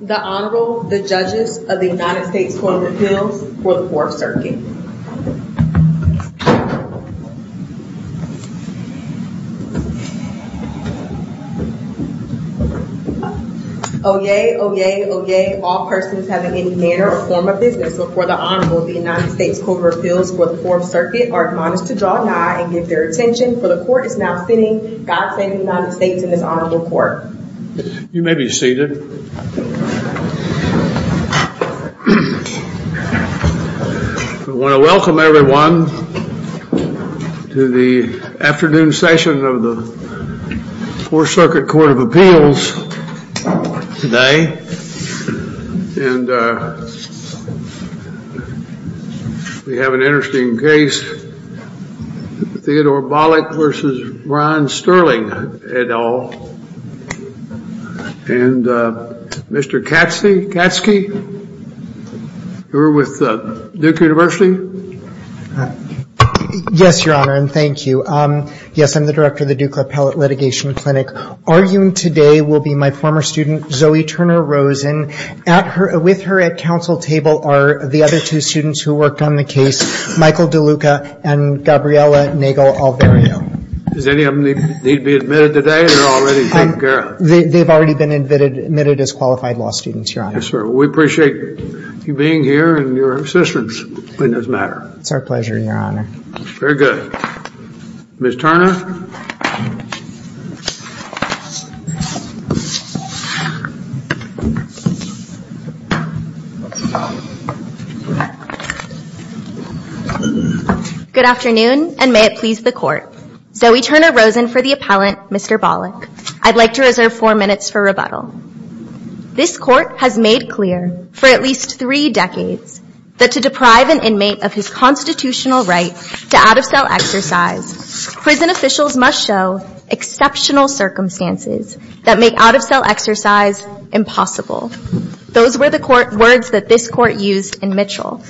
The Honorable, the Judges of the United States Court of Appeals for the 4th Circuit. Oyez, oyez, oyez, all persons having any manner or form of business before the Honorable of the United States Court of Appeals for the 4th Circuit are admonished to draw a nine and give their attention for the court is now sitting. God save the United States in this Honorable Court. You may be seated. I want to welcome everyone to the afternoon session of the 4th Circuit Court of Appeals today. And we have an interesting case, Theodore Bolick v. Ron Sterling, et al. And Mr. Katsky, you're with Duke University? Yes, Your Honor, and thank you. Yes, I'm the director of the Duke Appellate Litigation Clinic. Arguing today will be my former student, Zoe Turner Rosen. With her at counsel table are the other two students who worked on the case, Michael DeLuca and Gabriela Nagle Alvario. Does any of them need to be admitted today? They're already taken care of. They've already been admitted as qualified law students, Your Honor. Yes, sir. We appreciate you being here and your assistance in this matter. It's our pleasure, Your Honor. Very good. Ms. Turner? Good afternoon, and may it please the Court. Zoe Turner Rosen for the appellant, Mr. Bolick. I'd like to reserve four minutes for rebuttal. This Court has made clear for at least three decades that to deprive an inmate of his constitutional right to out-of-cell exercise, prison officials must show exceptional circumstances that make out-of-cell exercise impossible. Those were the words that this Court used in Mitchell.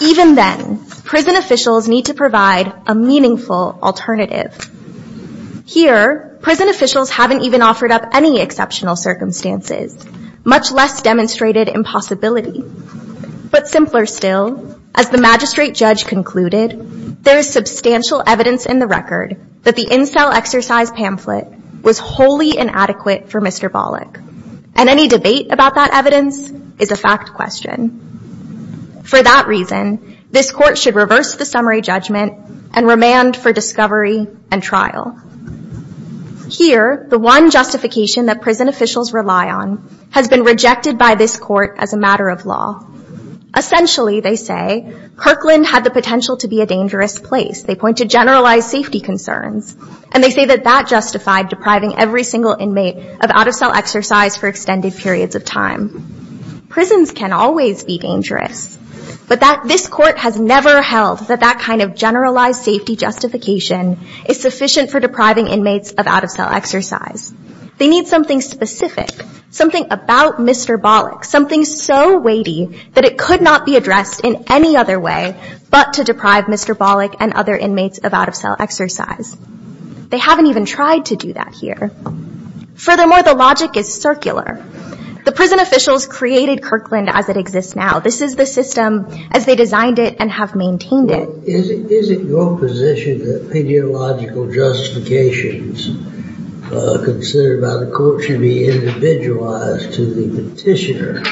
Even then, prison officials need to provide a meaningful alternative. Here, prison officials haven't even offered up any exceptional circumstances, much less demonstrated impossibility. But simpler still, as the magistrate judge concluded, there is substantial evidence in the record that the in-cell exercise pamphlet was wholly inadequate for Mr. Bolick. And any debate about that evidence is a fact question. For that reason, this Court should reverse the summary judgment and remand for discovery and trial. Here, the one justification that prison officials rely on has been rejected by this Court as a matter of law. Essentially, they say, Kirkland had the potential to be a dangerous place. They point to generalized safety concerns, and they say that that justified depriving every single inmate of out-of-cell exercise for extended periods of time. Prisons can always be dangerous. But this Court has never held that that kind of generalized safety justification is sufficient for depriving inmates of out-of-cell exercise. They need something specific, something about Mr. Bolick, something so weighty that it could not be addressed in any other way but to deprive Mr. Bolick and other inmates of out-of-cell exercise. They haven't even tried to do that here. Furthermore, the logic is circular. The prison officials created Kirkland as it exists now. This is the system as they designed it and have maintained it. Is it your position that pediological justifications considered by the Court should be individualized to the petitioner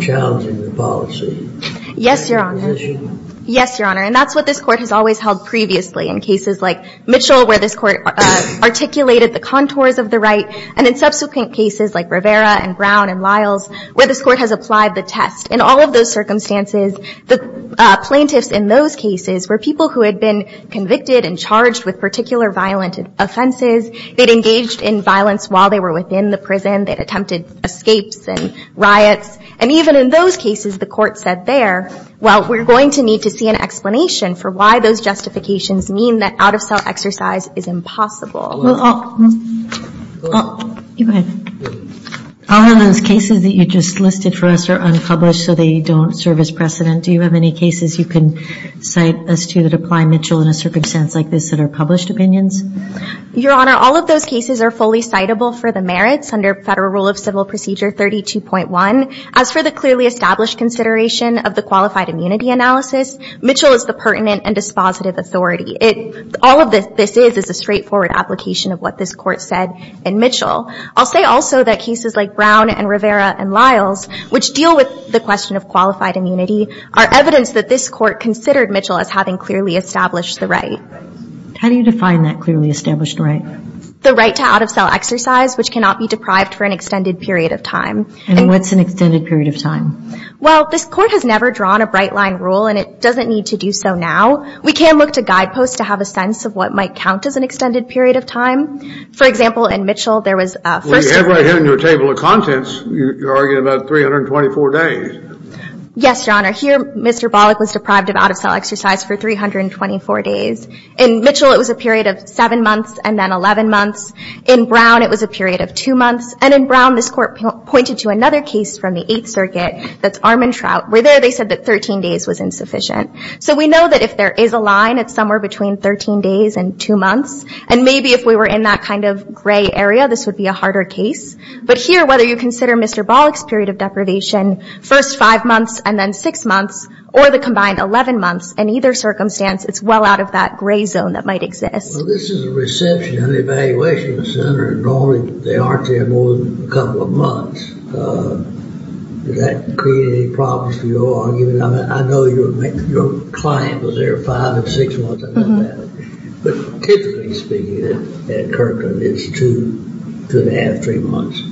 challenging the policy? Yes, Your Honor. Is that your position? Yes, Your Honor. And that's what this Court has always held previously in cases like Mitchell, where this Court articulated the contours of the right, and in subsequent cases like Rivera and Brown and Lyles, where this Court has applied the test. In all of those circumstances, the plaintiffs in those cases were people who had been convicted and charged with particular violent offenses. They'd engaged in violence while they were within the prison. They'd attempted escapes and riots. And even in those cases, the Court said there, well, we're going to need to see an explanation for why those justifications mean that out-of-cell exercise is impossible. Go ahead. All of those cases that you just listed for us are unpublished, so they don't serve as precedent. Do you have any cases you can cite as to that apply Mitchell in a circumstance like this that are published opinions? Your Honor, all of those cases are fully citable for the merits under Federal Rule of Civil Procedure 32.1. As for the clearly established consideration of the qualified immunity analysis, Mitchell is the pertinent and dispositive authority. All of this is is a straightforward application of what this Court said in Mitchell. I'll say also that cases like Brown and Rivera and Lyles, which deal with the question of qualified immunity, are evidence that this Court considered Mitchell as having clearly established the right. How do you define that clearly established right? The right to out-of-cell exercise, which cannot be deprived for an extended period of time. And what's an extended period of time? Well, this Court has never drawn a bright-line rule, and it doesn't need to do so now. We can look to guideposts to have a sense of what might count as an extended period of time. For example, in Mitchell, there was a first- Well, you have right here in your table of contents, you're arguing about 324 days. Yes, Your Honor. Here, Mr. Bollock was deprived of out-of-cell exercise for 324 days. In Mitchell, it was a period of 7 months and then 11 months. In Brown, it was a period of 2 months. And in Brown, this Court pointed to another case from the Eighth Circuit that's Armantrout. Where there, they said that 13 days was insufficient. So we know that if there is a line, it's somewhere between 13 days and 2 months. And maybe if we were in that kind of gray area, this would be a harder case. But here, whether you consider Mr. Bollock's period of deprivation, first 5 months and then 6 months, or the combined 11 months, in either circumstance, it's well out of that gray zone that might exist. Well, this is a reception and evaluation center, and normally they aren't there more than a couple of months. Does that create any problems for your argument? I know your client was there 5 and 6 months. I know that. But typically speaking, at Kirkland, it's 2, 2 1⁄2, 3 months.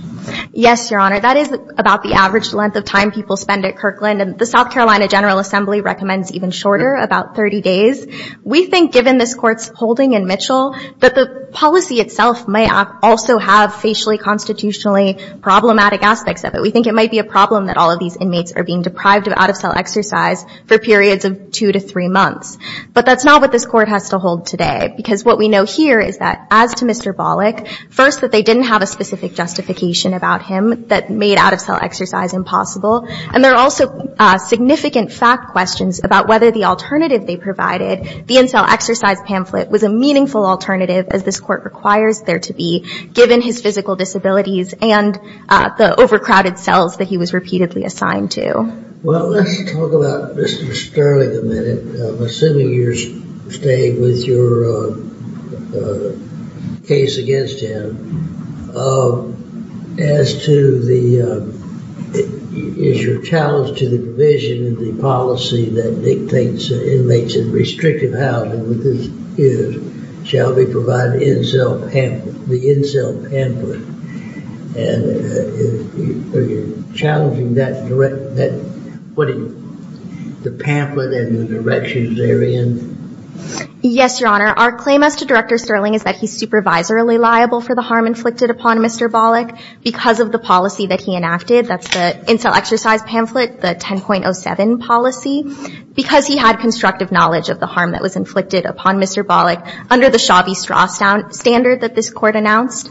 Yes, Your Honor. That is about the average length of time people spend at Kirkland. And the South Carolina General Assembly recommends even shorter, about 30 days. We think, given this Court's holding in Mitchell, that the policy itself may also have facially, constitutionally problematic aspects of it. We think it might be a problem that all of these inmates are being deprived of out-of-cell exercise for periods of 2 to 3 months. But that's not what this Court has to hold today. Because what we know here is that, as to Mr. Bollock, first that they didn't have a specific justification about him that made out-of-cell exercise impossible. And there are also significant fact questions about whether the alternative they provided, the in-cell exercise pamphlet, was a meaningful alternative, as this Court requires there to be, given his physical disabilities and the overcrowded cells that he was repeatedly assigned to. Well, let's talk about Mr. Sterling a minute. I'm assuming you're staying with your case against him. As to the, is your challenge to the provision of the policy that dictates that inmates in restrictive housing, which this is, shall be provided in-cell pamphlet, the in-cell pamphlet. Are you challenging the pamphlet and the directions therein? Yes, Your Honor. Our claim as to Director Sterling is that he's supervisorily liable for the harm inflicted upon Mr. Bollock because of the policy that he enacted. That's the in-cell exercise pamphlet, the 10.07 policy. Because he had constructive knowledge of the harm that was inflicted upon Mr. Bollock under the Shabby Straw standard that this Court announced.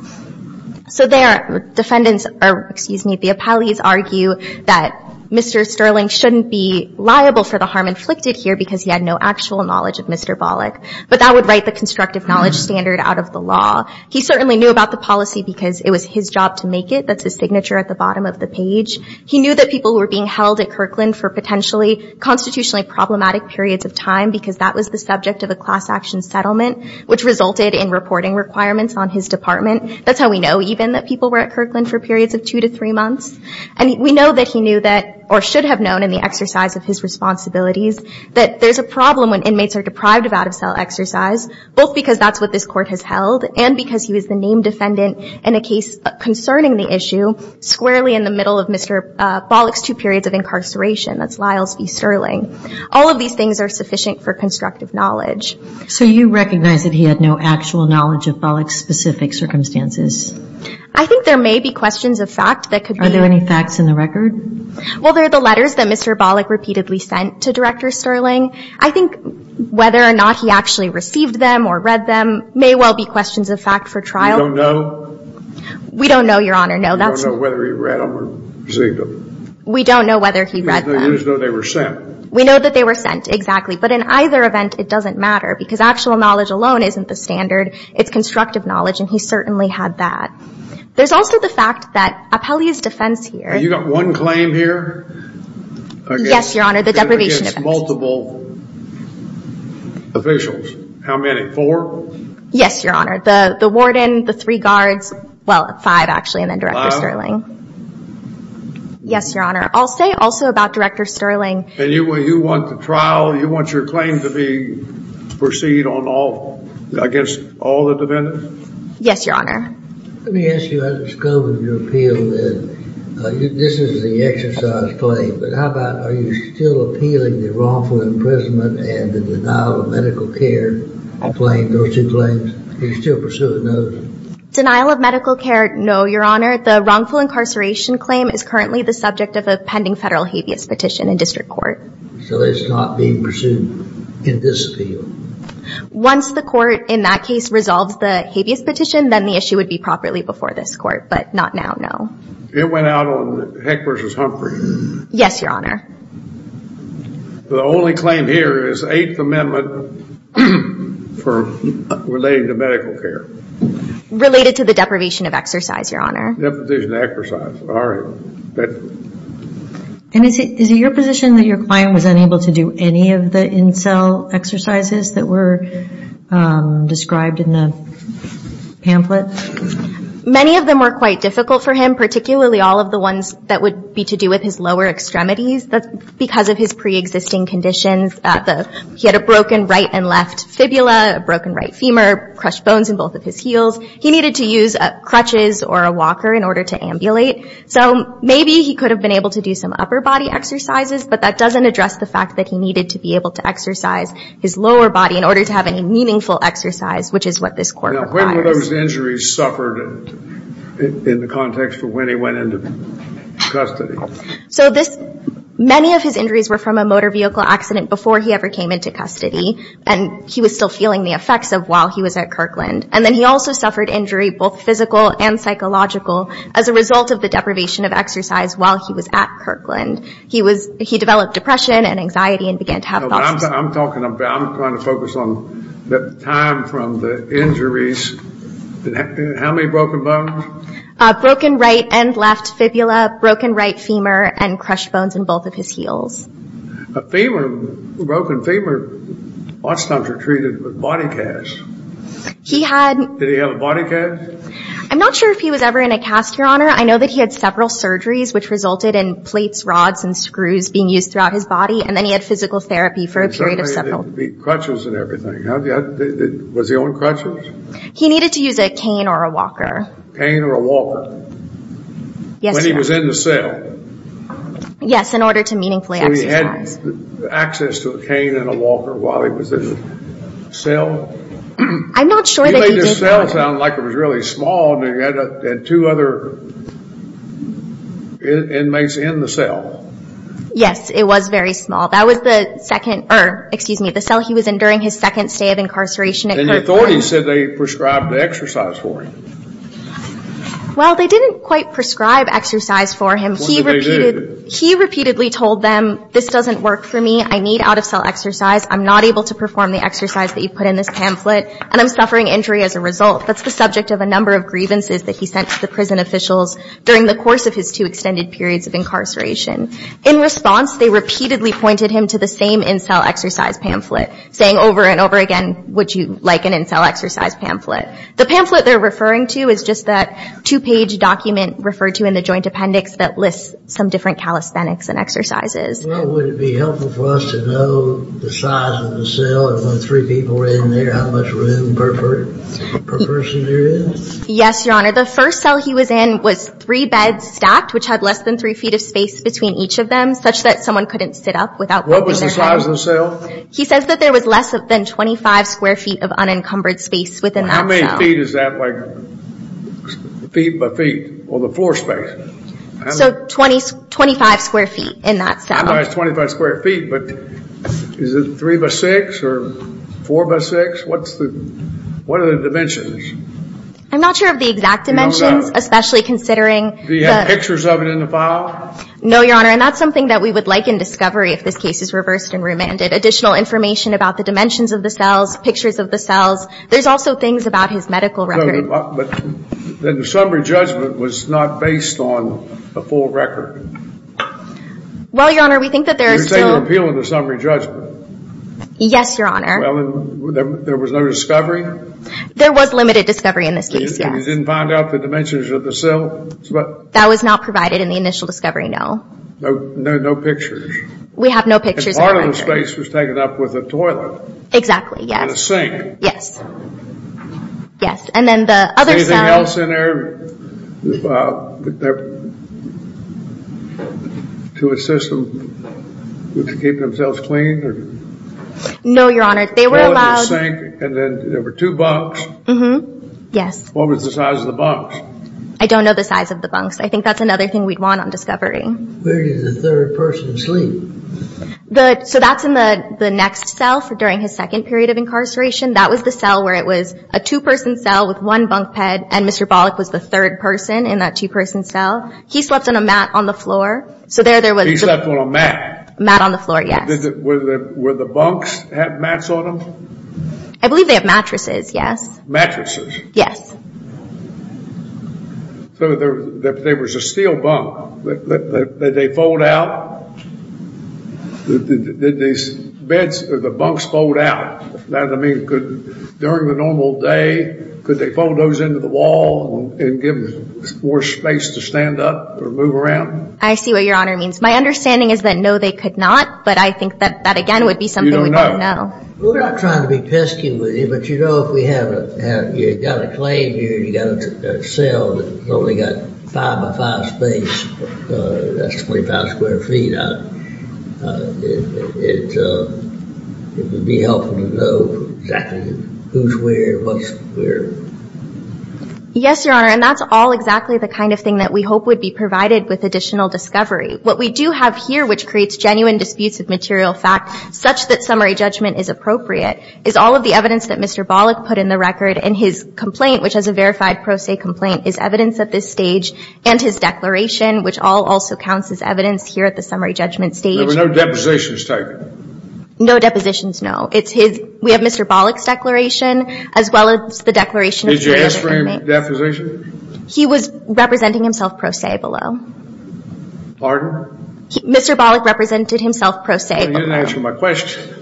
So there, defendants, or excuse me, the appellees argue that Mr. Sterling shouldn't be liable for the harm inflicted here because he had no actual knowledge of Mr. Bollock. But that would write the constructive knowledge standard out of the law. He certainly knew about the policy because it was his job to make it. That's his signature at the bottom of the page. He knew that people were being held at Kirkland for potentially constitutionally problematic periods of time because that was the subject of a class action settlement, which resulted in reporting requirements on his department. That's how we know, even, that people were at Kirkland for periods of two to three months. And we know that he knew that, or should have known in the exercise of his responsibilities, that there's a problem when inmates are deprived of out-of-cell exercise, both because that's what this Court has held and because he was the named defendant in a case concerning the issue squarely in the middle of Mr. Bollock's two periods of incarceration. That's Lyles v. Sterling. All of these things are sufficient for constructive knowledge. So you recognize that he had no actual knowledge of Bollock's specific circumstances? I think there may be questions of fact that could be. Are there any facts in the record? Well, there are the letters that Mr. Bollock repeatedly sent to Director Sterling. I think whether or not he actually received them or read them may well be questions of fact for trial. We don't know? We don't know, Your Honor, no. We don't know whether he read them or received them. We don't know whether he read them. It's as though they were sent. We know that they were sent, exactly. But in either event, it doesn't matter, because actual knowledge alone isn't the standard. It's constructive knowledge, and he certainly had that. There's also the fact that Appellee's defense here You've got one claim here? Yes, Your Honor, the deprivation offense. Against multiple officials. How many? Four? Yes, Your Honor. The warden, the three guards, well, five, actually, and then Director Sterling. Five? Yes, Your Honor. I'll say also about Director Sterling. And you want the trial, you want your claim to be, proceed on all, I guess, all the defendants? Yes, Your Honor. Let me ask you, I discovered your appeal, this is the exercise claim, but how about, are you still appealing the wrongful imprisonment and the denial of medical care claim, those two claims? Are you still pursuing those? Denial of medical care, no, Your Honor. Your Honor, the wrongful incarceration claim is currently the subject of a pending federal habeas petition in district court. So it's not being pursued in this appeal? Once the court, in that case, resolves the habeas petition, then the issue would be properly before this court, but not now, no. It went out on Heck versus Humphrey? Yes, Your Honor. The only claim here is the Eighth Amendment relating to medical care? Related to the deprivation of exercise, Your Honor. Deprivation of exercise, all right. And is it your position that your client was unable to do any of the incel exercises that were described in the pamphlet? Many of them were quite difficult for him, particularly all of the ones that would be to do with his lower extremities because of his preexisting conditions. He had a broken right and left fibula, a broken right femur, crushed bones in both of his heels. He needed to use crutches or a walker in order to ambulate. So maybe he could have been able to do some upper body exercises, but that doesn't address the fact that he needed to be able to exercise his lower body in order to have any meaningful exercise, which is what this court requires. Now, when were those injuries suffered in the context of when he went into custody? So many of his injuries were from a motor vehicle accident before he ever came into custody, and he was still feeling the effects of while he was at Kirkland. And then he also suffered injury, both physical and psychological, as a result of the deprivation of exercise while he was at Kirkland. He developed depression and anxiety and began to have thoughts. I'm trying to focus on the time from the injuries. How many broken bones? Broken right and left fibula, broken right femur, and crushed bones in both of his heels. A broken femur oftentimes are treated with body casts. Did he have a body cast? I'm not sure if he was ever in a cast, Your Honor. I know that he had several surgeries which resulted in plates, rods, and screws being used throughout his body, and then he had physical therapy for a period of several. Crutches and everything. Was he on crutches? He needed to use a cane or a walker. Cane or a walker. Yes, Your Honor. When he was in the cell. Yes, in order to meaningfully exercise. So he had access to a cane and a walker while he was in the cell? I'm not sure that he did that. You made the cell sound like it was really small, and you had two other inmates in the cell. Yes, it was very small. That was the second or, excuse me, the cell he was in during his second stay of incarceration at Kirkland. And the authorities said they prescribed the exercise for him. Well, they didn't quite prescribe exercise for him. What did they do? He repeatedly told them, this doesn't work for me. I need out-of-cell exercise. I'm not able to perform the exercise that you put in this pamphlet, and I'm suffering injury as a result. That's the subject of a number of grievances that he sent to the prison officials during the course of his two extended periods of incarceration. In response, they repeatedly pointed him to the same in-cell exercise pamphlet, saying over and over again, would you like an in-cell exercise pamphlet? The pamphlet they're referring to is just that two-page document referred to in the joint appendix that lists some different calisthenics and exercises. Well, would it be helpful for us to know the size of the cell and when three people were in there, how much room per person there is? Yes, Your Honor. The first cell he was in was three beds stacked, which had less than three feet of space between each of them, such that someone couldn't sit up without breaking their head. What was the size of the cell? He says that there was less than 25 square feet of unencumbered space within that cell. How many feet is that, like feet by feet, or the floor space? So 25 square feet in that cell. I know it's 25 square feet, but is it three by six or four by six? What are the dimensions? I'm not sure of the exact dimensions, especially considering the – Do you have pictures of it in the file? No, Your Honor, and that's something that we would like in discovery if this case is reversed and remanded, additional information about the dimensions of the cells, pictures of the cells. There's also things about his medical record. So the summary judgment was not based on a full record? Well, Your Honor, we think that there is still – You're saying there were appeal in the summary judgment? Yes, Your Honor. Well, and there was no discovery? There was limited discovery in this case, yes. You didn't find out the dimensions of the cells? That was not provided in the initial discovery, no. No pictures? We have no pictures of the records. And part of the space was taken up with a toilet? Exactly, yes. And the sink? Yes. Yes. And then the other cell – Anything else in there to assist them to keep themselves clean? No, Your Honor, they were allowed – Toilet and sink, and then there were two bunks? Mm-hmm, yes. What was the size of the bunks? I don't know the size of the bunks. I think that's another thing we'd want on discovery. Where did the third person sleep? So that's in the next cell during his second period of incarceration. That was the cell where it was a two-person cell with one bunk bed, and Mr. Bollock was the third person in that two-person cell. He slept on a mat on the floor. He slept on a mat? A mat on the floor, yes. Did the bunks have mats on them? I believe they have mattresses, yes. Mattresses? Yes. So there was a steel bunk. Did they fold out? Did these beds or the bunks fold out? I mean, during the normal day, could they fold those into the wall and give them more space to stand up or move around? I see what Your Honor means. My understanding is that no, they could not, but I think that, again, would be something we don't know. We're not trying to be pesky with you, but you know if you've got a claim here, you've got a cell that's only got five by five space, that's 25 square feet, it would be helpful to know exactly who's where and what's where. Yes, Your Honor, and that's all exactly the kind of thing that we hope would be provided with additional discovery. What we do have here, which creates genuine disputes of material fact, such that summary judgment is appropriate, is all of the evidence that Mr. Bollock put in the record and his complaint, which is a verified pro se complaint, is evidence at this stage and his declaration, which all also counts as evidence here at the summary judgment stage. There were no depositions taken? No depositions, no. We have Mr. Bollock's declaration as well as the declaration of summary judgment. Did you ask for any depositions? He was representing himself pro se below. Pardon? Mr. Bollock represented himself pro se below. You didn't answer my question.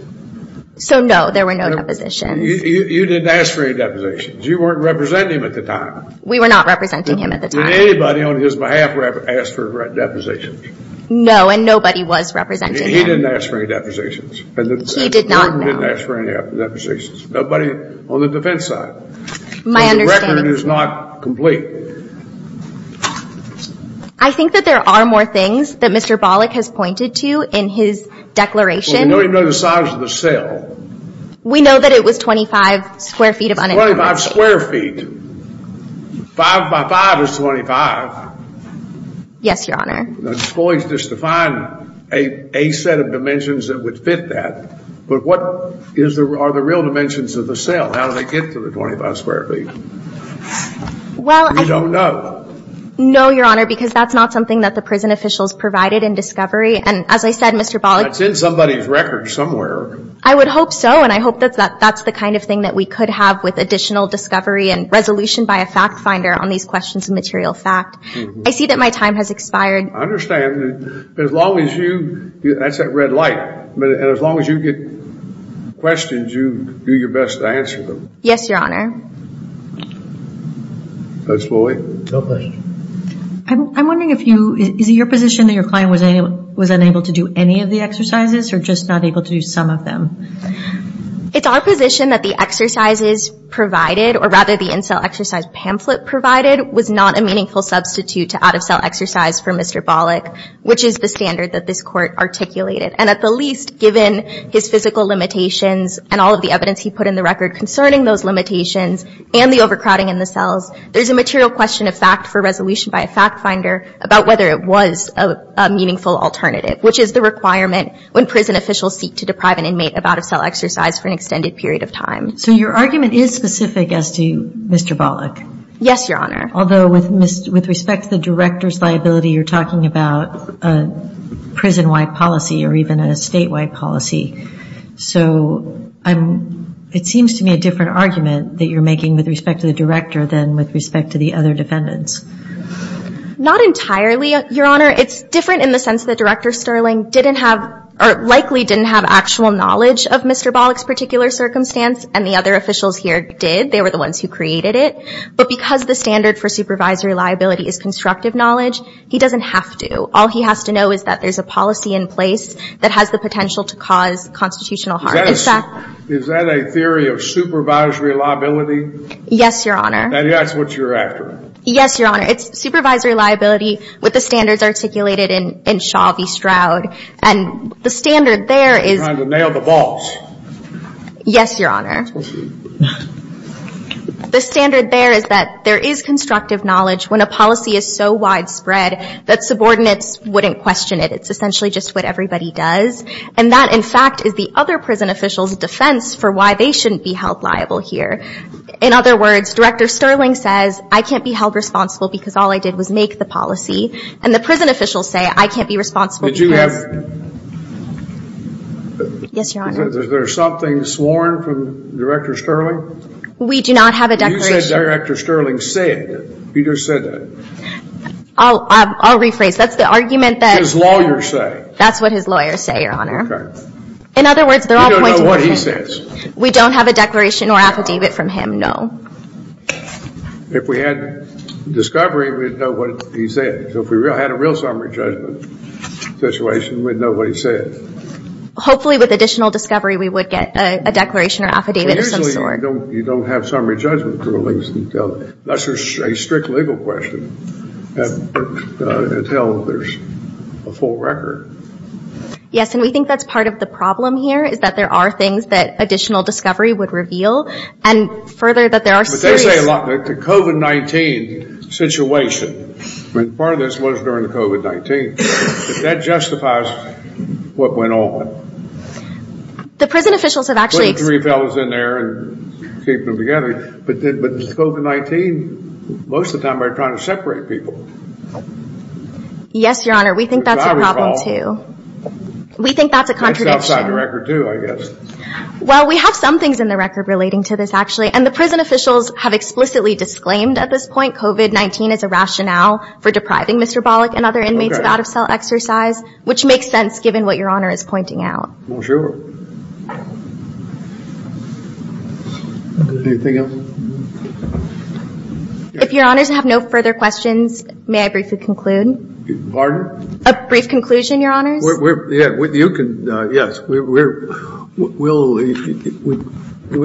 So, no, there were no depositions. You didn't ask for any depositions. You weren't representing him at the time. We were not representing him at the time. Did anybody on his behalf ask for depositions? No, and nobody was representing him. He didn't ask for any depositions? He did not, no. And the department didn't ask for any depositions? Nobody on the defense side? My understanding is not complete. I think that there are more things that Mr. Bollock has pointed to in his declaration. Well, we don't even know the size of the cell. We know that it was 25 square feet of uninformed space. It's 25 square feet. Five by five is 25. Yes, Your Honor. The exploits just define a set of dimensions that would fit that. But what are the real dimensions of the cell? How do they get to the 25 square feet? Well, I don't know. No, Your Honor, because that's not something that the prison officials provided in discovery. And, as I said, Mr. Bollock That's in somebody's record somewhere. I would hope so. And I hope that that's the kind of thing that we could have with additional discovery and resolution by a fact finder on these questions of material fact. I see that my time has expired. But as long as you – that's that red light. And as long as you get questions, you do your best to answer them. Yes, Your Honor. Judge Bollock? No questions. I'm wondering if you – is it your position that your client was unable to do any of the exercises or just not able to do some of them? It's our position that the exercises provided, or rather the in-cell exercise pamphlet provided, was not a meaningful substitute to out-of-cell exercise for Mr. Bollock, which is the standard that this Court articulated. And at the least, given his physical limitations and all of the evidence he put in the record concerning those limitations and the overcrowding in the cells, there's a material question of fact for resolution by a fact finder about whether it was a meaningful alternative, which is the requirement when prison officials seek to deprive an inmate of out-of-cell exercise for an extended period of time. So your argument is specific as to Mr. Bollock? Yes, Your Honor. Although with respect to the director's liability, you're talking about a prison-wide policy or even a statewide policy. So it seems to me a different argument that you're making with respect to the director than with respect to the other defendants. Not entirely, Your Honor. It's different in the sense that Director Sterling didn't have or likely didn't have actual knowledge of Mr. Bollock's particular circumstance and the other officials here did. They were the ones who created it. But because the standard for supervisory liability is constructive knowledge, he doesn't have to. All he has to know is that there's a policy in place that has the potential to cause constitutional harm. Is that a theory of supervisory liability? Yes, Your Honor. And that's what you're after? Yes, Your Honor. It's supervisory liability with the standards articulated in Shaw v. Stroud. And the standard there is... You're trying to nail the boss. Yes, Your Honor. The standard there is that there is constructive knowledge when a policy is so widespread that subordinates wouldn't question it. It's essentially just what everybody does. And that, in fact, is the other prison officials' defense for why they shouldn't be held liable here. In other words, Director Sterling says, I can't be held responsible because all I did was make the policy. And the prison officials say, I can't be responsible because... Did you have... Yes, Your Honor. Is there something sworn from Director Sterling? We do not have a declaration... You said Director Sterling said that. Peter said that. I'll rephrase. That's the argument that... His lawyers say. That's what his lawyers say, Your Honor. Okay. In other words, they're all pointing... We don't know what he says. We don't have a declaration or affidavit from him, no. If we had discovery, we'd know what he said. So if we had a real summary judgment situation, we'd know what he said. Hopefully, with additional discovery, we would get a declaration or affidavit of some sort. Usually, you don't have summary judgment rulings. That's a strict legal question until there's a full record. Yes, and we think that's part of the problem here, is that there are things that additional discovery would reveal, and further, that there are... But they say a lot... The COVID-19 situation, part of this was during the COVID-19. That justifies what went on. The prison officials have actually... Putting three fellows in there and keeping them together. But COVID-19, most of the time, they're trying to separate people. Yes, Your Honor, we think that's a problem, too. We think that's a contradiction. That's outside the record, too, I guess. Well, we have some things in the record relating to this, actually, and the prison officials have explicitly disclaimed, at this point, COVID-19 as a rationale for depriving Mr. Bollock and other inmates of out-of-cell exercise, which makes sense, given what Your Honor is pointing out. Well, sure. Anything else? If Your Honors have no further questions, may I briefly conclude? Pardon? A brief conclusion, Your Honors. Yes, we'll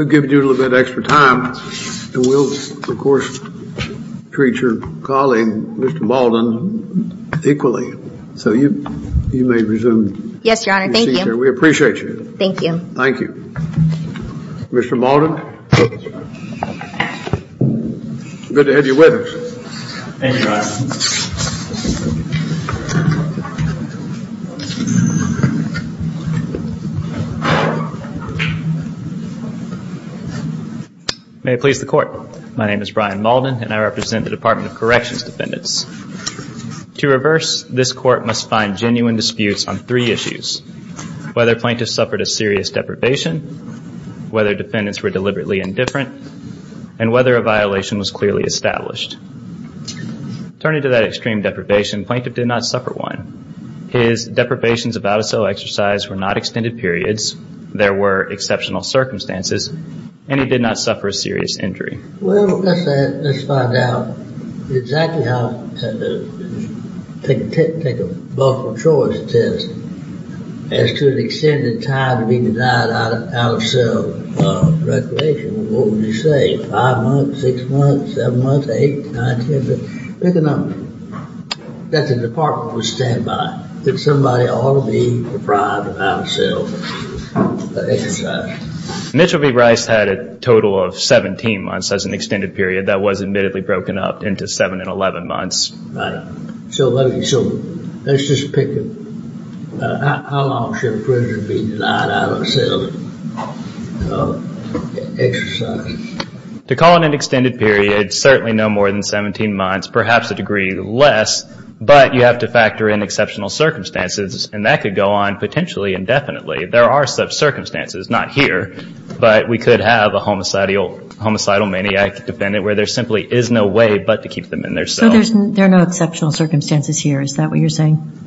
give you a little bit of extra time, and we'll, of course, treat your colleague, Mr. Baldwin, equally. So you may resume your seat there. Yes, Your Honor, thank you. We appreciate you. Thank you. Thank you. Mr. Baldwin, good to have you with us. Thank you, Your Honor. May it please the Court. My name is Brian Mauldin, and I represent the Department of Corrections Defendants. To reverse, this Court must find genuine disputes on three issues, whether plaintiffs suffered a serious deprivation, whether defendants were deliberately indifferent, and whether a violation was clearly established. Turning to that extreme deprivation, the plaintiff did not suffer one. His deprivations of out-of-cell exercise were not extended periods, there were exceptional circumstances, and he did not suffer a serious injury. Well, let's find out exactly how to take a multiple choice test as to an extended time to be denied out-of-cell recreation. What would you say? Five months, six months, seven months, eight, nine, ten? Pick a number that the Department would stand by that somebody ought to be deprived of out-of-cell exercise. Mitchell v. Rice had a total of 17 months as an extended period that was admittedly broken up into seven and 11 months. So let's just pick it. How long should a prisoner be denied out-of-cell exercise? To call it an extended period, certainly no more than 17 months, perhaps a degree less, but you have to factor in exceptional circumstances, and that could go on potentially indefinitely. There are some circumstances, not here, but we could have a homicidal maniac defendant where there simply is no way but to keep them in their cells. So there are no exceptional circumstances here, is that what you're saying?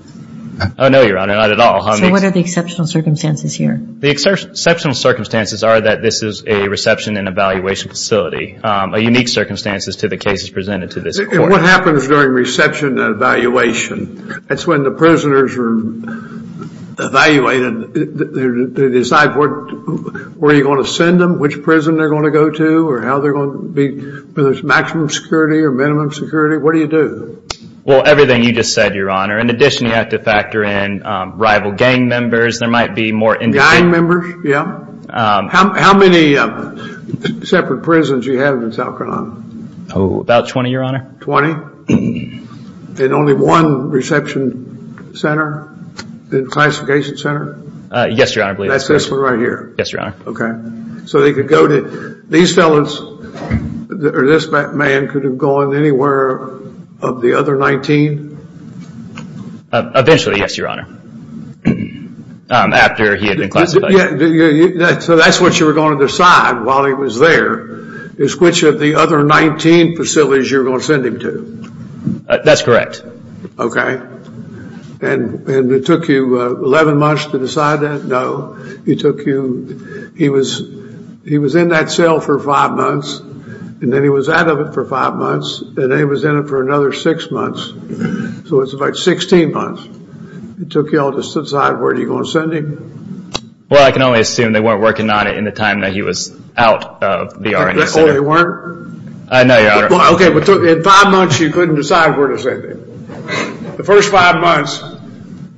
No, Your Honor, not at all. So what are the exceptional circumstances here? The exceptional circumstances are that this is a reception and evaluation facility, a unique circumstances to the cases presented to this court. What happens during reception and evaluation? That's when the prisoners are evaluated. They decide where you're going to send them, which prison they're going to go to, whether it's maximum security or minimum security. What do you do? Well, everything you just said, Your Honor. In addition, you have to factor in rival gang members. There might be more individuals. Gang members, yeah. How many separate prisons do you have in South Carolina? About 20, Your Honor. Twenty? And only one reception center, classification center? Yes, Your Honor. That's this one right here? Yes, Your Honor. Okay. These felons, or this man, could have gone anywhere of the other 19? Eventually, yes, Your Honor, after he had been classified. So that's what you were going to decide while he was there, is which of the other 19 facilities you were going to send him to? That's correct. Okay. And it took you 11 months to decide that? No. It took you – he was in that cell for five months, and then he was out of it for five months, and then he was in it for another six months. So it was about 16 months. It took you all to decide where you were going to send him? Well, I can only assume they weren't working on it in the time that he was out of the R&D center. Oh, they weren't? No, Your Honor. Okay, but in five months you couldn't decide where to send him. The first five months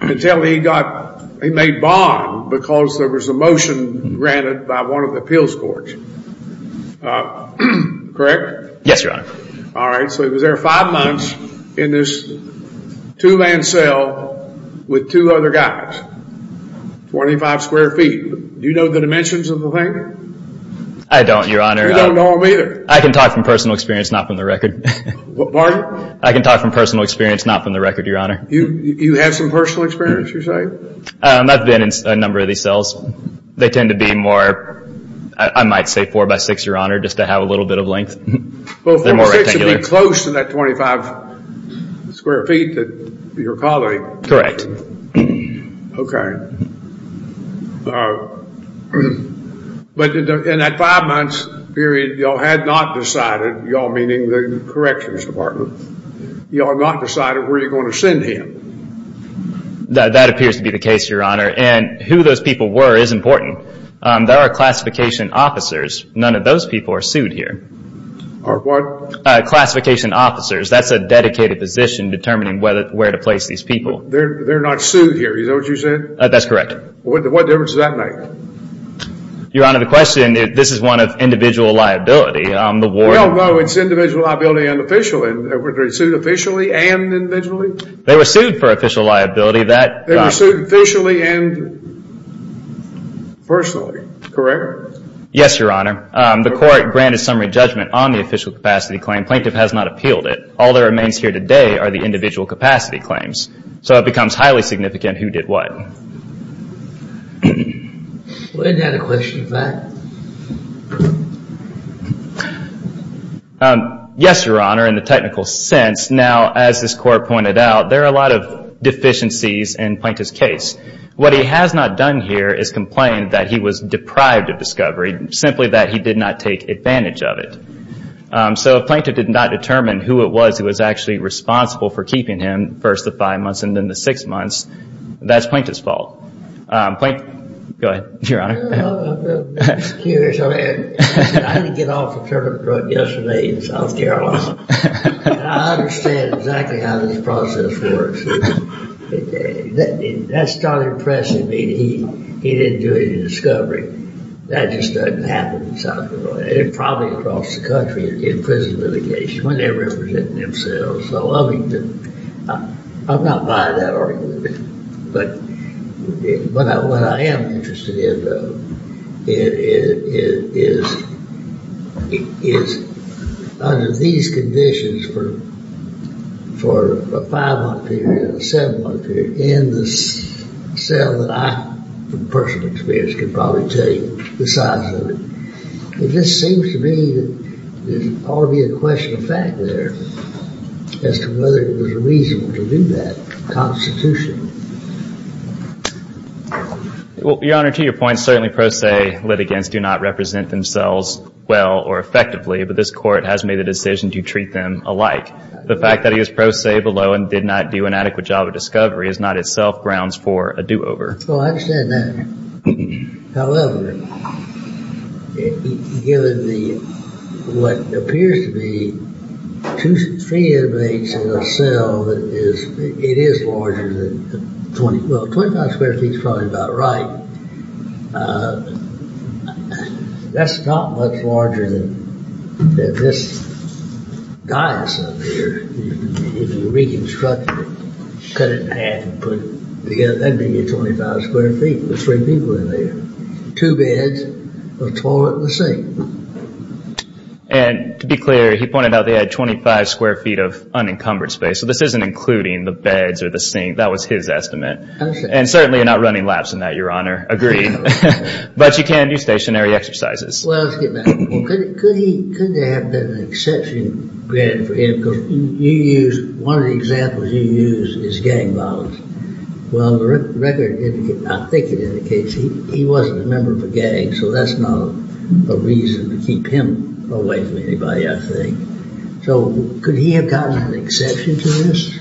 until he got – he made bond because there was a motion granted by one of the appeals courts. Correct? Yes, Your Honor. All right, so he was there five months in this two-man cell with two other guys, 25 square feet. Do you know the dimensions of the thing? I don't, Your Honor. You don't know them either? I can talk from personal experience, not from the record. Pardon? I can talk from personal experience, not from the record, Your Honor. You have some personal experience, you're saying? I've been in a number of these cells. They tend to be more – I might say 4 by 6, Your Honor, just to have a little bit of length. Well, 4 by 6 would be close to that 25 square feet that you're calling. Correct. Okay. But in that five-month period, y'all had not decided, y'all meaning the corrections department, y'all not decided where you're going to send him. That appears to be the case, Your Honor, and who those people were is important. There are classification officers. None of those people are sued here. Are what? Classification officers. That's a dedicated position determining where to place these people. They're not sued here. Is that what you said? That's correct. What difference does that make? Your Honor, the question, this is one of individual liability. No, no, it's individual liability and official. Were they sued officially and individually? They were sued for official liability. They were sued officially and personally, correct? Yes, Your Honor. The court granted summary judgment on the official capacity claim. Plaintiff has not appealed it. All that remains here today are the individual capacity claims. So it becomes highly significant who did what. Isn't that a question of fact? Yes, Your Honor, in the technical sense. Now, as this court pointed out, there are a lot of deficiencies in Plaintiff's case. What he has not done here is complain that he was deprived of discovery, simply that he did not take advantage of it. So if Plaintiff did not determine who it was who was actually responsible for and then the six months, that's Plaintiff's fault. Go ahead, Your Honor. I'm curious. I had to get off a turnip drug yesterday in South Carolina. And I understand exactly how this process works. That started impressing me that he didn't do any discovery. That just doesn't happen in South Carolina. And probably across the country in prison litigation when they're representing themselves. I'm not buying that argument. But what I am interested in is under these conditions for a five-month period, a seven-month period, in the cell that I, from personal experience, can probably tell you the size of it, it just seems to me that there ought to be a question of fact there as to whether it was reasonable to do that constitutionally. Well, Your Honor, to your point, certainly pro se litigants do not represent themselves well or effectively, but this court has made the decision to treat them alike. The fact that he was pro se below and did not do an adequate job of discovery is not itself grounds for a do-over. Oh, I understand that. However, given the, what appears to be, three inmates in a cell that is, it is larger than, well, 25 square feet is probably about right. That's not much larger than this dais up here. If you reconstructed it, cut it in half and put it together, that'd be 25 square feet with three people in there, two beds, a toilet, and a sink. And to be clear, he pointed out they had 25 square feet of unencumbered space, so this isn't including the beds or the sink. That was his estimate. And certainly you're not running laps in that, Your Honor. Agreed. But you can do stationary exercises. Well, let's get back. Could there have been an exception granted for him? Because you used, one of the examples you used is gang violence. Well, the record indicates, I think it indicates, he wasn't a member of a gang, so that's not a reason to keep him away from anybody, I think. So could he have gotten an exception to this?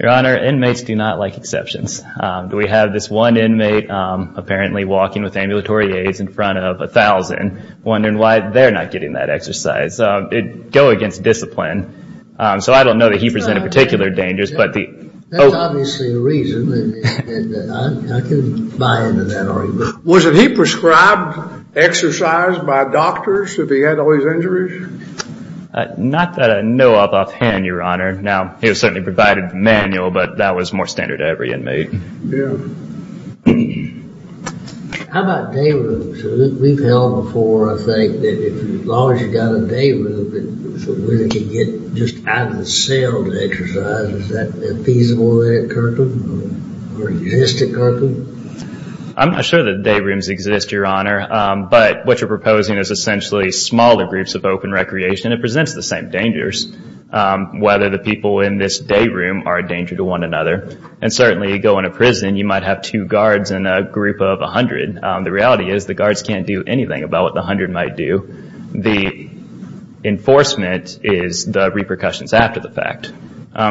Your Honor, inmates do not like exceptions. Do we have this one inmate, apparently walking with ambulatory aids in front of 1,000, wondering why they're not getting that exercise. Go against discipline. So I don't know that he presented particular dangers, but the... That's obviously a reason, and I can buy into that argument. Was he prescribed exercise by doctors if he had all these injuries? Not that I know of offhand, Your Honor. Now, he was certainly provided with a manual, but that was more standard to every inmate. Yeah. How about day rooms? We've held before, I think, that as long as you've got a day room, where they can get just out of the cell to exercise, is that feasible there at Kirkland? Or exist at Kirkland? I'm not sure that day rooms exist, Your Honor, but what you're proposing is essentially smaller groups of open recreation that presents the same dangers, whether the people in this day room are a danger to one another. And certainly, you go into prison, you might have two guards and a group of 100. The reality is the guards can't do anything about what the 100 might do. The enforcement is the repercussions after the fact.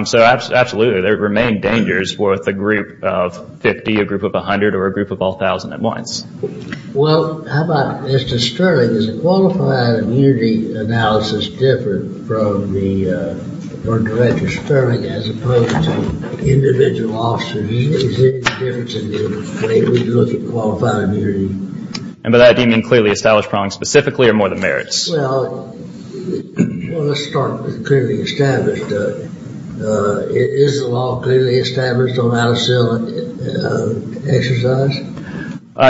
So absolutely, there remain dangers with a group of 50, a group of 100, or a group of all 1,000 at once. Well, how about Mr. Sterling? Is a qualified immunity analysis different from the Director Sterling as opposed to individual officers? Is there any difference in the way we look at qualified immunity? And by that, do you mean clearly established problems specifically or more than merits? Well, let's start with clearly established. Is the law clearly established on how to exercise?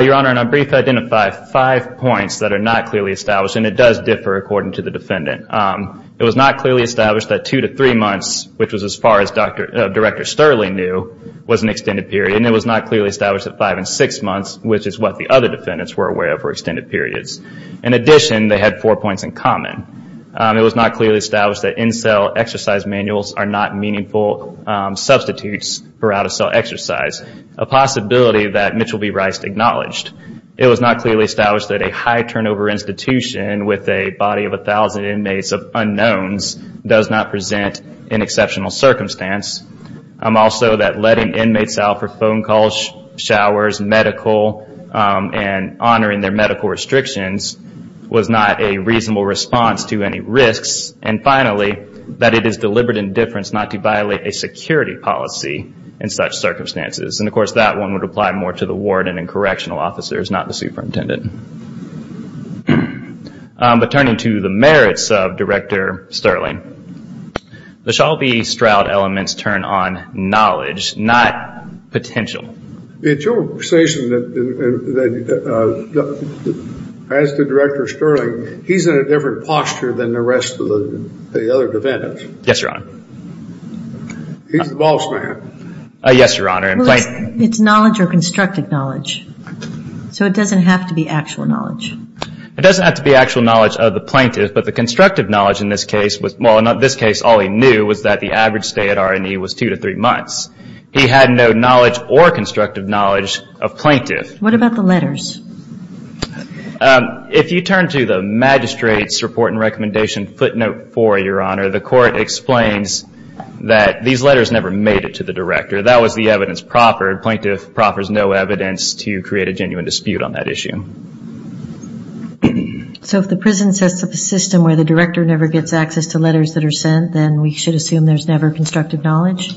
Your Honor, and I'll briefly identify five points that are not clearly established, and it does differ according to the defendant. It was not clearly established that two to three months, which was as far as Director Sterling knew, was an extended period. And it was not clearly established that five and six months, which is what the other defendants were aware of, were extended periods. In addition, they had four points in common. It was not clearly established that in-cell exercise manuals are not meaningful substitutes for out-of-cell exercise, a possibility that Mitchel B. Rice acknowledged. It was not clearly established that a high turnover institution with a body of 1,000 inmates of unknowns does not present an exceptional circumstance. Also, that letting inmates out for phone calls, showers, medical, and honoring their medical restrictions was not a reasonable response to any risks. And finally, that it is deliberate indifference not to violate a security policy in such circumstances. And, of course, that one would apply more to the warden and correctional officers, not the superintendent. But turning to the merits of Director Sterling, the Shelby Stroud elements turn on knowledge, not potential. It's your station that as to Director Sterling, he's in a different posture than the rest of the other defendants. Yes, Your Honor. He's the boss man. Yes, Your Honor. It's knowledge or constructed knowledge. So it doesn't have to be actual knowledge. It doesn't have to be actual knowledge of the plaintiff, but the constructive knowledge in this case was, well, in this case all he knew was that the average stay at R&E was two to three months. He had no knowledge or constructive knowledge of plaintiff. What about the letters? If you turn to the magistrate's report and recommendation footnote four, Your Honor, the court explains that these letters never made it to the director. That was the evidence proffered. Plaintiff proffers no evidence to create a genuine dispute on that issue. So if the prison sets up a system where the director never gets access to letters that are sent, then we should assume there's never constructive knowledge?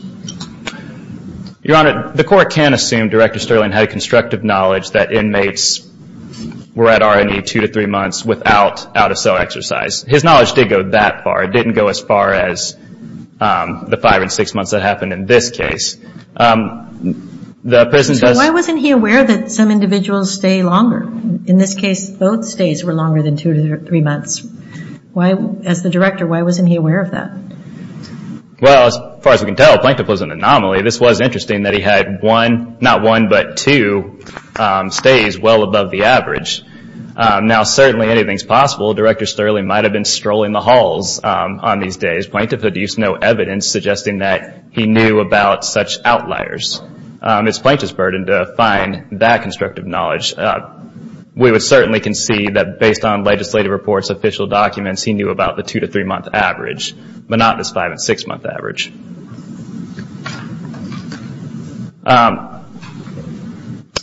Your Honor, the court can assume Director Sterling had constructive knowledge that inmates were at R&E two to three months without out-of-cell exercise. His knowledge did go that far. It didn't go as far as the five and six months that happened in this case. So why wasn't he aware that some individuals stay longer? In this case, both stays were longer than two to three months. As the director, why wasn't he aware of that? Well, as far as we can tell, Plaintiff was an anomaly. This was interesting that he had not one but two stays well above the average. Now certainly anything is possible. Director Sterling might have been strolling the halls on these days. Plaintiff produced no evidence suggesting that he knew about such outliers. It's Plaintiff's burden to find that constructive knowledge. We would certainly concede that based on legislative reports, official documents, he knew about the two to three month average, but not this five and six month average.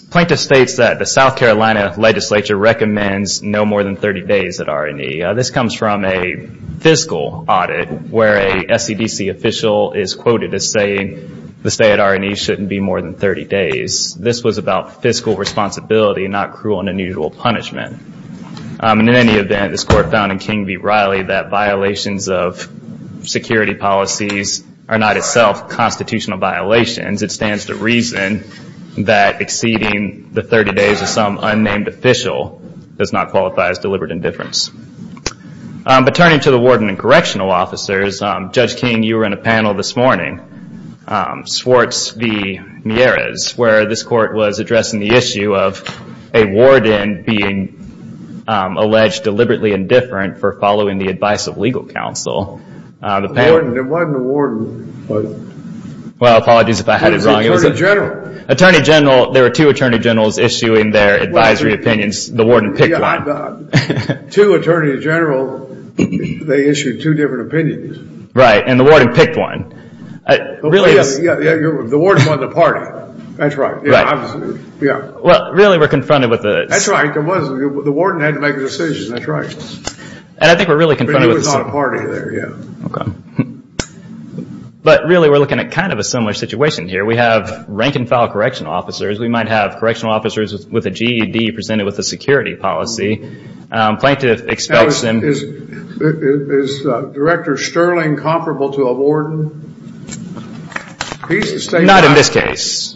Plaintiff states that the South Carolina legislature recommends no more than 30 days at R&E. This comes from a fiscal audit where a SCDC official is quoted as saying the stay at R&E shouldn't be more than 30 days. This was about fiscal responsibility, not cruel and unusual punishment. In any event, this court found in King v. Riley that violations of security policies are not itself constitutional violations. It stands to reason that exceeding the 30 days of some unnamed official does not qualify as deliberate indifference. But turning to the warden and correctional officers, Judge King, you were in a panel this morning, Swartz v. Mieres, where this court was addressing the issue of a warden being alleged deliberately indifferent for following the advice of legal counsel. There wasn't a warden. Well, apologies if I had it wrong. It was an attorney general. Attorney general. There were two attorney generals issuing their advisory opinions. The warden picked one. Two attorney generals, they issued two different opinions. Right, and the warden picked one. The warden won the party. That's right. Well, really we're confronted with a... That's right. The warden had to make a decision. That's right. And I think we're really confronted with... But he was not a party there, yeah. Okay. But really we're looking at kind of a similar situation here. We have rank and file correctional officers. We might have correctional officers with a GED presented with a security policy. Plaintiff expects them... Now, is Director Sterling comparable to a warden? He's the state's boss man. Not in this case.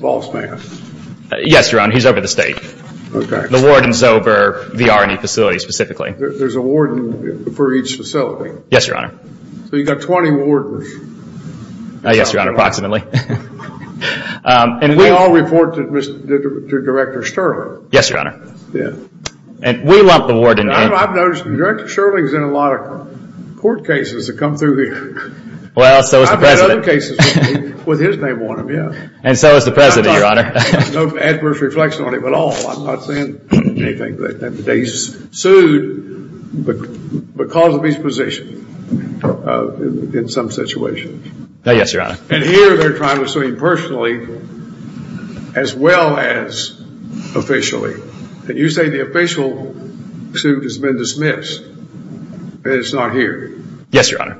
Yes, Your Honor, he's over the state. Okay. The warden's over the R&E facility specifically. There's a warden for each facility. Yes, Your Honor. So you've got 20 wardens. Yes, Your Honor, approximately. And we all report to Director Sterling. Yes, Your Honor. Yeah. And we lump the warden in. I've noticed Director Sterling's in a lot of court cases that come through here. Well, so has the President. I've had other cases with his name on them, yeah. And so has the President, Your Honor. No adverse reflection on him at all. I'm not saying anything. He's sued because of his position in some situations. Yes, Your Honor. And here they're trying to sue him personally as well as officially. And you say the official suit has been dismissed and it's not here. Yes, Your Honor.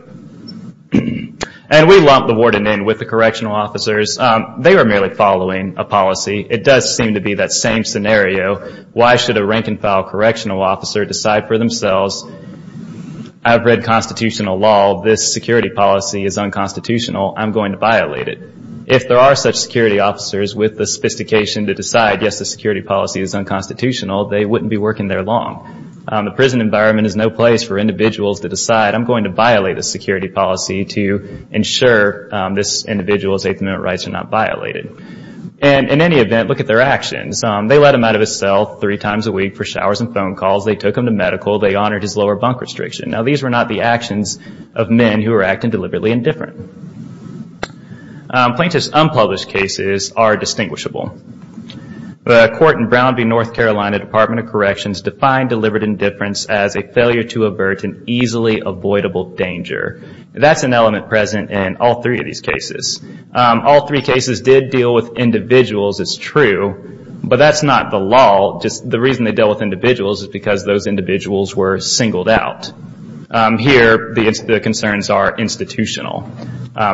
And we lump the warden in with the correctional officers. They were merely following a policy. It does seem to be that same scenario. Why should a rank-and-file correctional officer decide for themselves, I've read constitutional law, this security policy is unconstitutional, I'm going to violate it? If there are such security officers with the sophistication to decide, yes, this security policy is unconstitutional, they wouldn't be working there long. The prison environment is no place for individuals to decide, I'm going to violate this security policy to ensure this individual's Eighth Amendment rights are not violated. And in any event, look at their actions. They let him out of his cell three times a week for showers and phone calls. They took him to medical. They honored his lower bunk restriction. Now, these were not the actions of men who were acting deliberately indifferent. Plaintiffs' unpublished cases are distinguishable. The court in Brown v. North Carolina Department of Corrections defined deliberate indifference as a failure to avert an easily avoidable danger. That's an element present in all three of these cases. All three cases did deal with individuals, it's true, but that's not the law. The reason they dealt with individuals is because those individuals were singled out. Here, the concerns are institutional,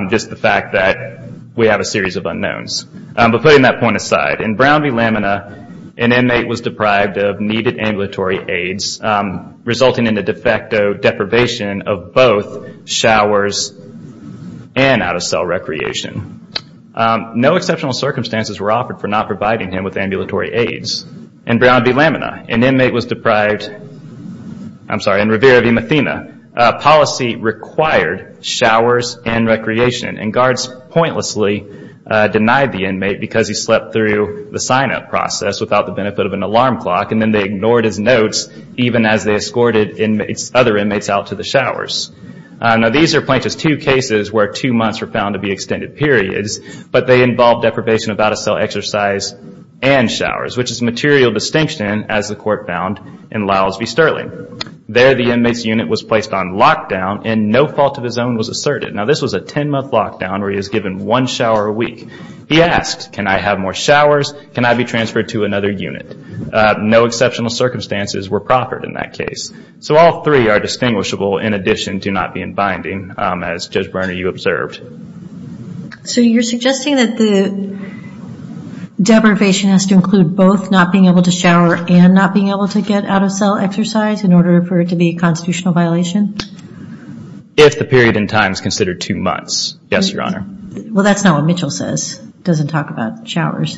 just the fact that we have a series of unknowns. But putting that point aside, in Brown v. Lamina, an inmate was deprived of needed ambulatory aids, resulting in the de facto deprivation of both showers and out-of-cell recreation. No exceptional circumstances were offered for not providing him with ambulatory aids. In Brown v. Lamina, an inmate was deprived, I'm sorry, in Revere v. Mathena, policy required showers and recreation, and guards pointlessly denied the inmate because he slept through the sign-up process without the benefit of an alarm clock, and then they ignored his notes even as they escorted other inmates out to the showers. These are Plaintiff's two cases where two months were found to be extended periods, but they involved deprivation of out-of-cell exercise and showers, which is a material distinction, as the Court found in Lowell v. Sterling. There, the inmate's unit was placed on lockdown and no fault of his own was asserted. This was a 10-month lockdown where he was given one shower a week. He asked, can I have more showers, can I be transferred to another unit? No exceptional circumstances were proffered in that case. So all three are distinguishable in addition to not being binding, as Judge Berner, you observed. So you're suggesting that the deprivation has to include both not being able to shower and not being able to get out-of-cell exercise in order for it to be a constitutional violation? If the period in time is considered two months, yes, Your Honor. Well, that's not what Mitchell says. It doesn't talk about showers.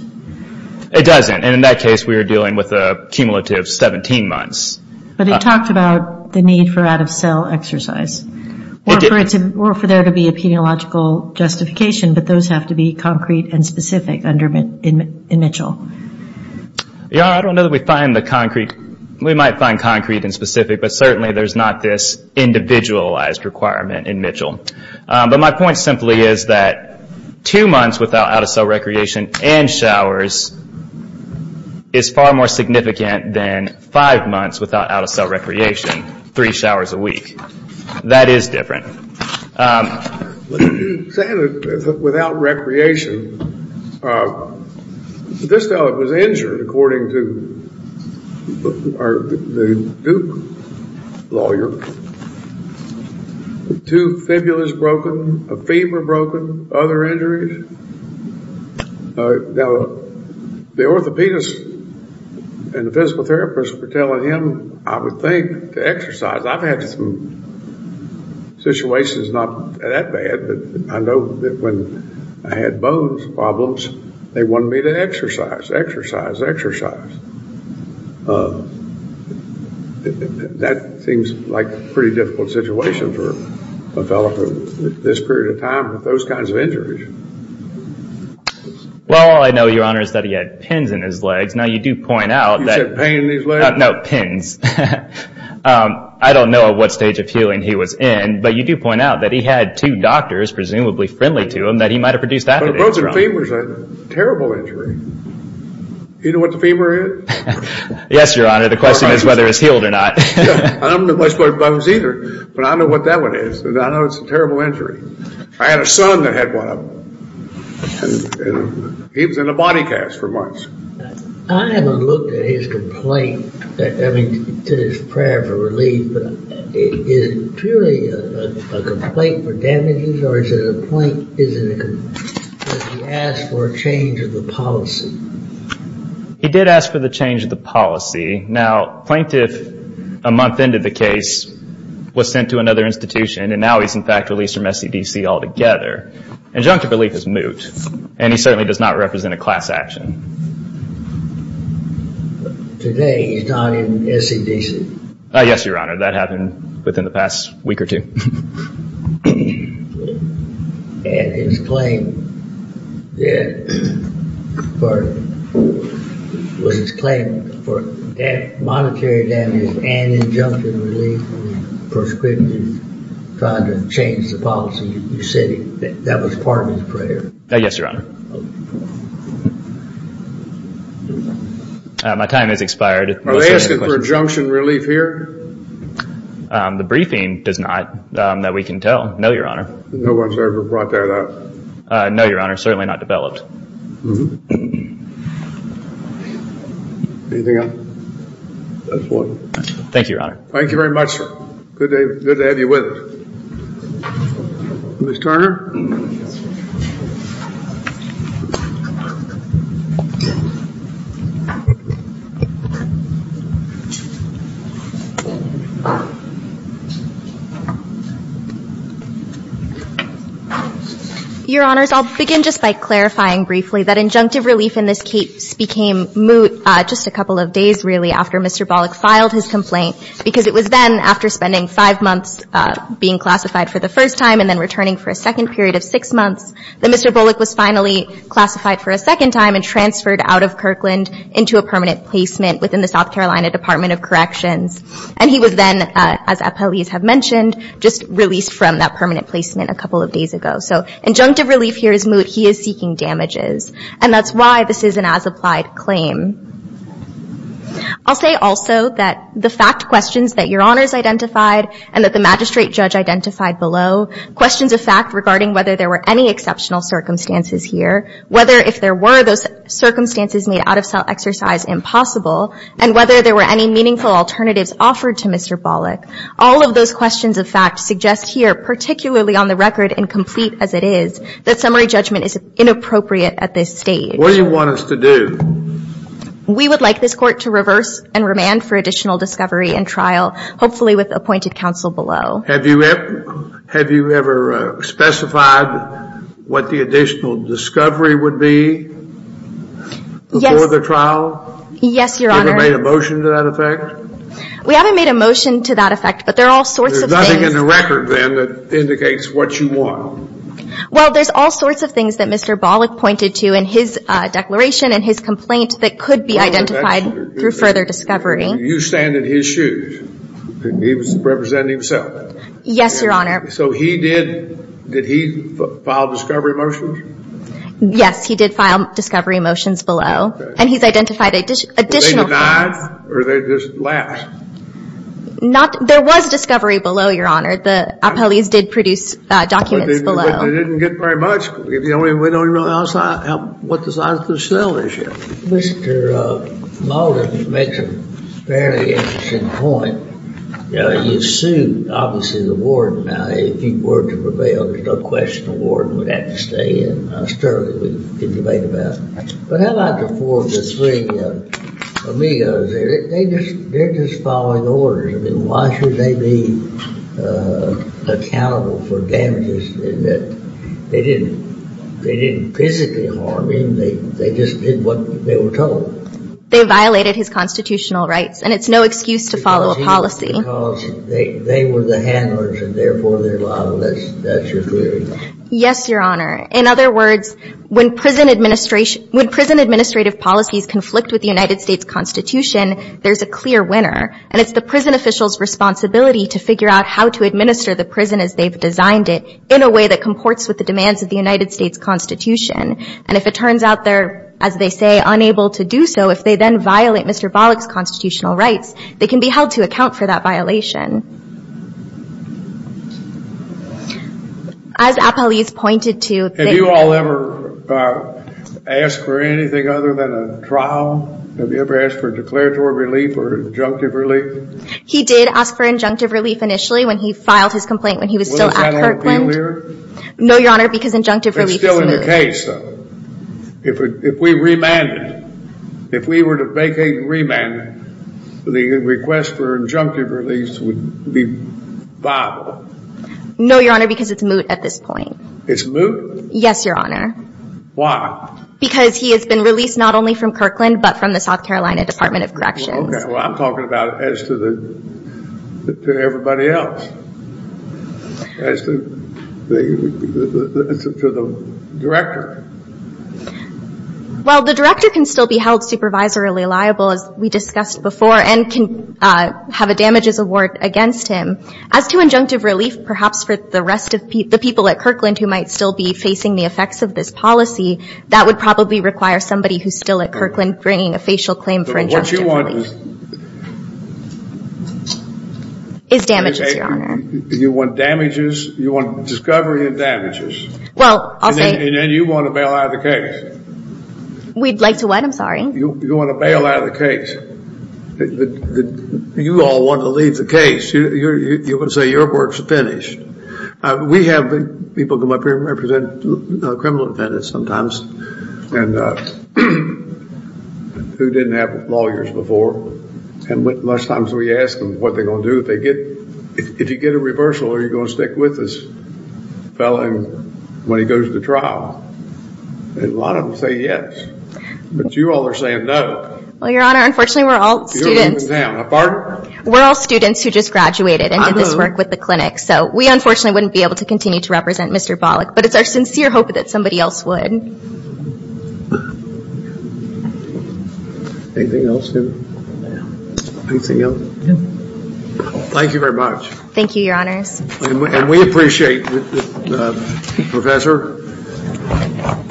It doesn't, and in that case we were dealing with a cumulative 17 months. But it talked about the need for out-of-cell exercise or for there to be a peniological justification, but those have to be concrete and specific in Mitchell. Your Honor, I don't know that we find the concrete, we might find concrete and specific, but certainly there's not this individualized requirement in Mitchell. But my point simply is that two months without out-of-cell recreation and showers is far more significant than five months without out-of-cell recreation, three showers a week. That is different. Without recreation, this fellow was injured, according to the Duke lawyer. Two fibulas broken, a femur broken, other injuries. Now, the orthopedist and the physical therapist were telling him, I would think to exercise, I've had some situations not that bad, but I know that when I had bones problems, they wanted me to exercise, exercise, exercise. That seems like a pretty difficult situation for a fellow for this period of time with those kinds of injuries. Well, all I know, Your Honor, is that he had pins in his legs. Now, you do point out that... You said pain in his legs? No, pins. I don't know at what stage of healing he was in, but you do point out that he had two doctors, presumably friendly to him, that he might have produced that injury. But a broken femur is a terrible injury. You know what the femur is? Yes, Your Honor. The question is whether it's healed or not. I don't know much about bones either, but I know what that one is. I know it's a terrible injury. I had a son that had one of them. He was in a body cast for months. I haven't looked at his complaint, I mean, to this prayer for relief, but is it purely a complaint for damages, or is it a complaint that he asked for a change of the policy? He did ask for the change of the policy. Now, plaintiff, a month into the case, was sent to another institution, and now he's, in fact, released from SCDC altogether. Adjunctive relief is moot, and he certainly does not represent a class action. Today, he's not in SCDC? Yes, Your Honor. That happened within the past week or two. And his claim was his claim for monetary damages and adjunctive relief was prescriptive, trying to change the policy. You said that was part of his prayer? Yes, Your Honor. My time has expired. Are they asking for adjunction relief here? The briefing does not, that we can tell. No, Your Honor. No one's ever brought that up? No, Your Honor, certainly not developed. Anything else? That's all. Thank you, Your Honor. Thank you very much, sir. Good to have you with us. Ms. Tarner. Your Honors, I'll begin just by clarifying briefly that injunctive relief in this case became moot just a couple of days, really, after Mr. Bollock filed his complaint because it was then, after spending five months being classified for the first time and then returning for a second period of six months, that Mr. Bollock was finally classified for a second time and transferred out of Kirkland into a permanent placement within the South Carolina Department of Corrections. And he was then, as appellees have mentioned, just released from that permanent placement a couple of days ago. So injunctive relief here is moot. He is seeking damages. And that's why this is an as-applied claim. I'll say also that the fact questions that Your Honors identified and that the magistrate judge identified below, questions of fact regarding whether there were any exceptional circumstances here, whether if there were, those circumstances made out-of-exercise impossible, and whether there were any meaningful alternatives offered to Mr. Bollock, all of those questions of fact suggest here, particularly on the record and complete as it is, that summary judgment is inappropriate at this stage. What do you want us to do? We would like this court to reverse and remand for additional discovery and trial, hopefully with appointed counsel below. Have you ever specified what the additional discovery would be before the trial? Yes, Your Honor. Have you ever made a motion to that effect? We haven't made a motion to that effect, but there are all sorts of things. There's nothing in the record, then, that indicates what you want. Well, there's all sorts of things that Mr. Bollock pointed to in his declaration and his complaint that could be identified through further discovery. You stand in his shoes. He was representing himself. Yes, Your Honor. So he did, did he file discovery motions? Yes, he did file discovery motions below. And he's identified additional claims. Were they denied or did they just last? There was discovery below, Your Honor. The appellees did produce documents. They didn't get very much. We don't even know what the size of the cell is yet. Mr. Maldon makes a fairly interesting point. You sued, obviously, the warden. Now, if he were to prevail, there's no question the warden would have to stay in. Sterling, we can debate about. But how about the four of the three amigos there? They're just following orders. I mean, why should they be accountable for damages? They didn't physically harm him. They just did what they were told. They violated his constitutional rights. And it's no excuse to follow a policy. Because they were the handlers, and therefore they're liable. That's your query? Yes, Your Honor. In other words, when prison administration – when prison administrative policies conflict with the United States Constitution, there's a clear winner. And it's the prison officials' responsibility to figure out how to administer the prison as they've designed it in a way that comports with the demands of the United States Constitution. And if it turns out they're, as they say, unable to do so, if they then violate Mr. Bollock's constitutional rights, they can be held to account for that violation. As appellees pointed to – Have you all ever asked for anything other than a trial? Have you ever asked for declaratory relief or injunctive relief? He did ask for injunctive relief initially when he filed his complaint when he was still at Kirkland. Was that on appeal here? No, Your Honor, because injunctive relief is moot. It's still in the case, though. If we remanded – if we were to vacate and remand it, the request for injunctive relief would be viable. No, Your Honor, because it's moot at this point. It's moot? Yes, Your Honor. Why? Because he has been released not only from Kirkland but from the South Carolina Department of Corrections. Okay. Well, I'm talking about as to everybody else, as to the director. Well, the director can still be held supervisorily liable, as we discussed before, and can have a damages award against him. As to injunctive relief, perhaps for the rest of the people at Kirkland who might still be facing the effects of this policy, that would probably require somebody who's still at Kirkland bringing a facial claim for injunctive relief. So what you want is – Is damages, Your Honor. You want damages. You want discovery of damages. Well, I'll say – And then you want to bail out of the case. We'd like to what? I'm sorry. You want to bail out of the case. You all want to leave the case. You're going to say your work's finished. We have people come up here and represent criminal defendants sometimes who didn't have lawyers before. And most times we ask them what they're going to do if they get – if you get a reversal, are you going to stick with this fellow when he goes to trial? And a lot of them say yes. But you all are saying no. Well, Your Honor, unfortunately we're all students. You're leaving town. Pardon? We're all students who just graduated and did this work with the clinic. So we unfortunately wouldn't be able to continue to represent Mr. Bollock. But it's our sincere hope that somebody else would. Anything else? Anything else? Thank you very much. Thank you, Your Honors. And we appreciate, Professor,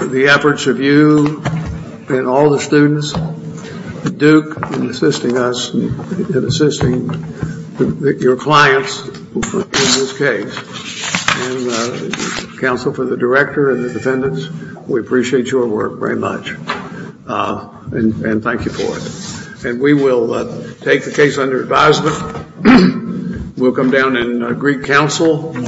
the efforts of you and all the students at Duke in assisting us and assisting your clients in this case. And counsel for the director and the defendants, we appreciate your work very much. And thank you for it. And we will take the case under advisement. We'll come down and greet counsel.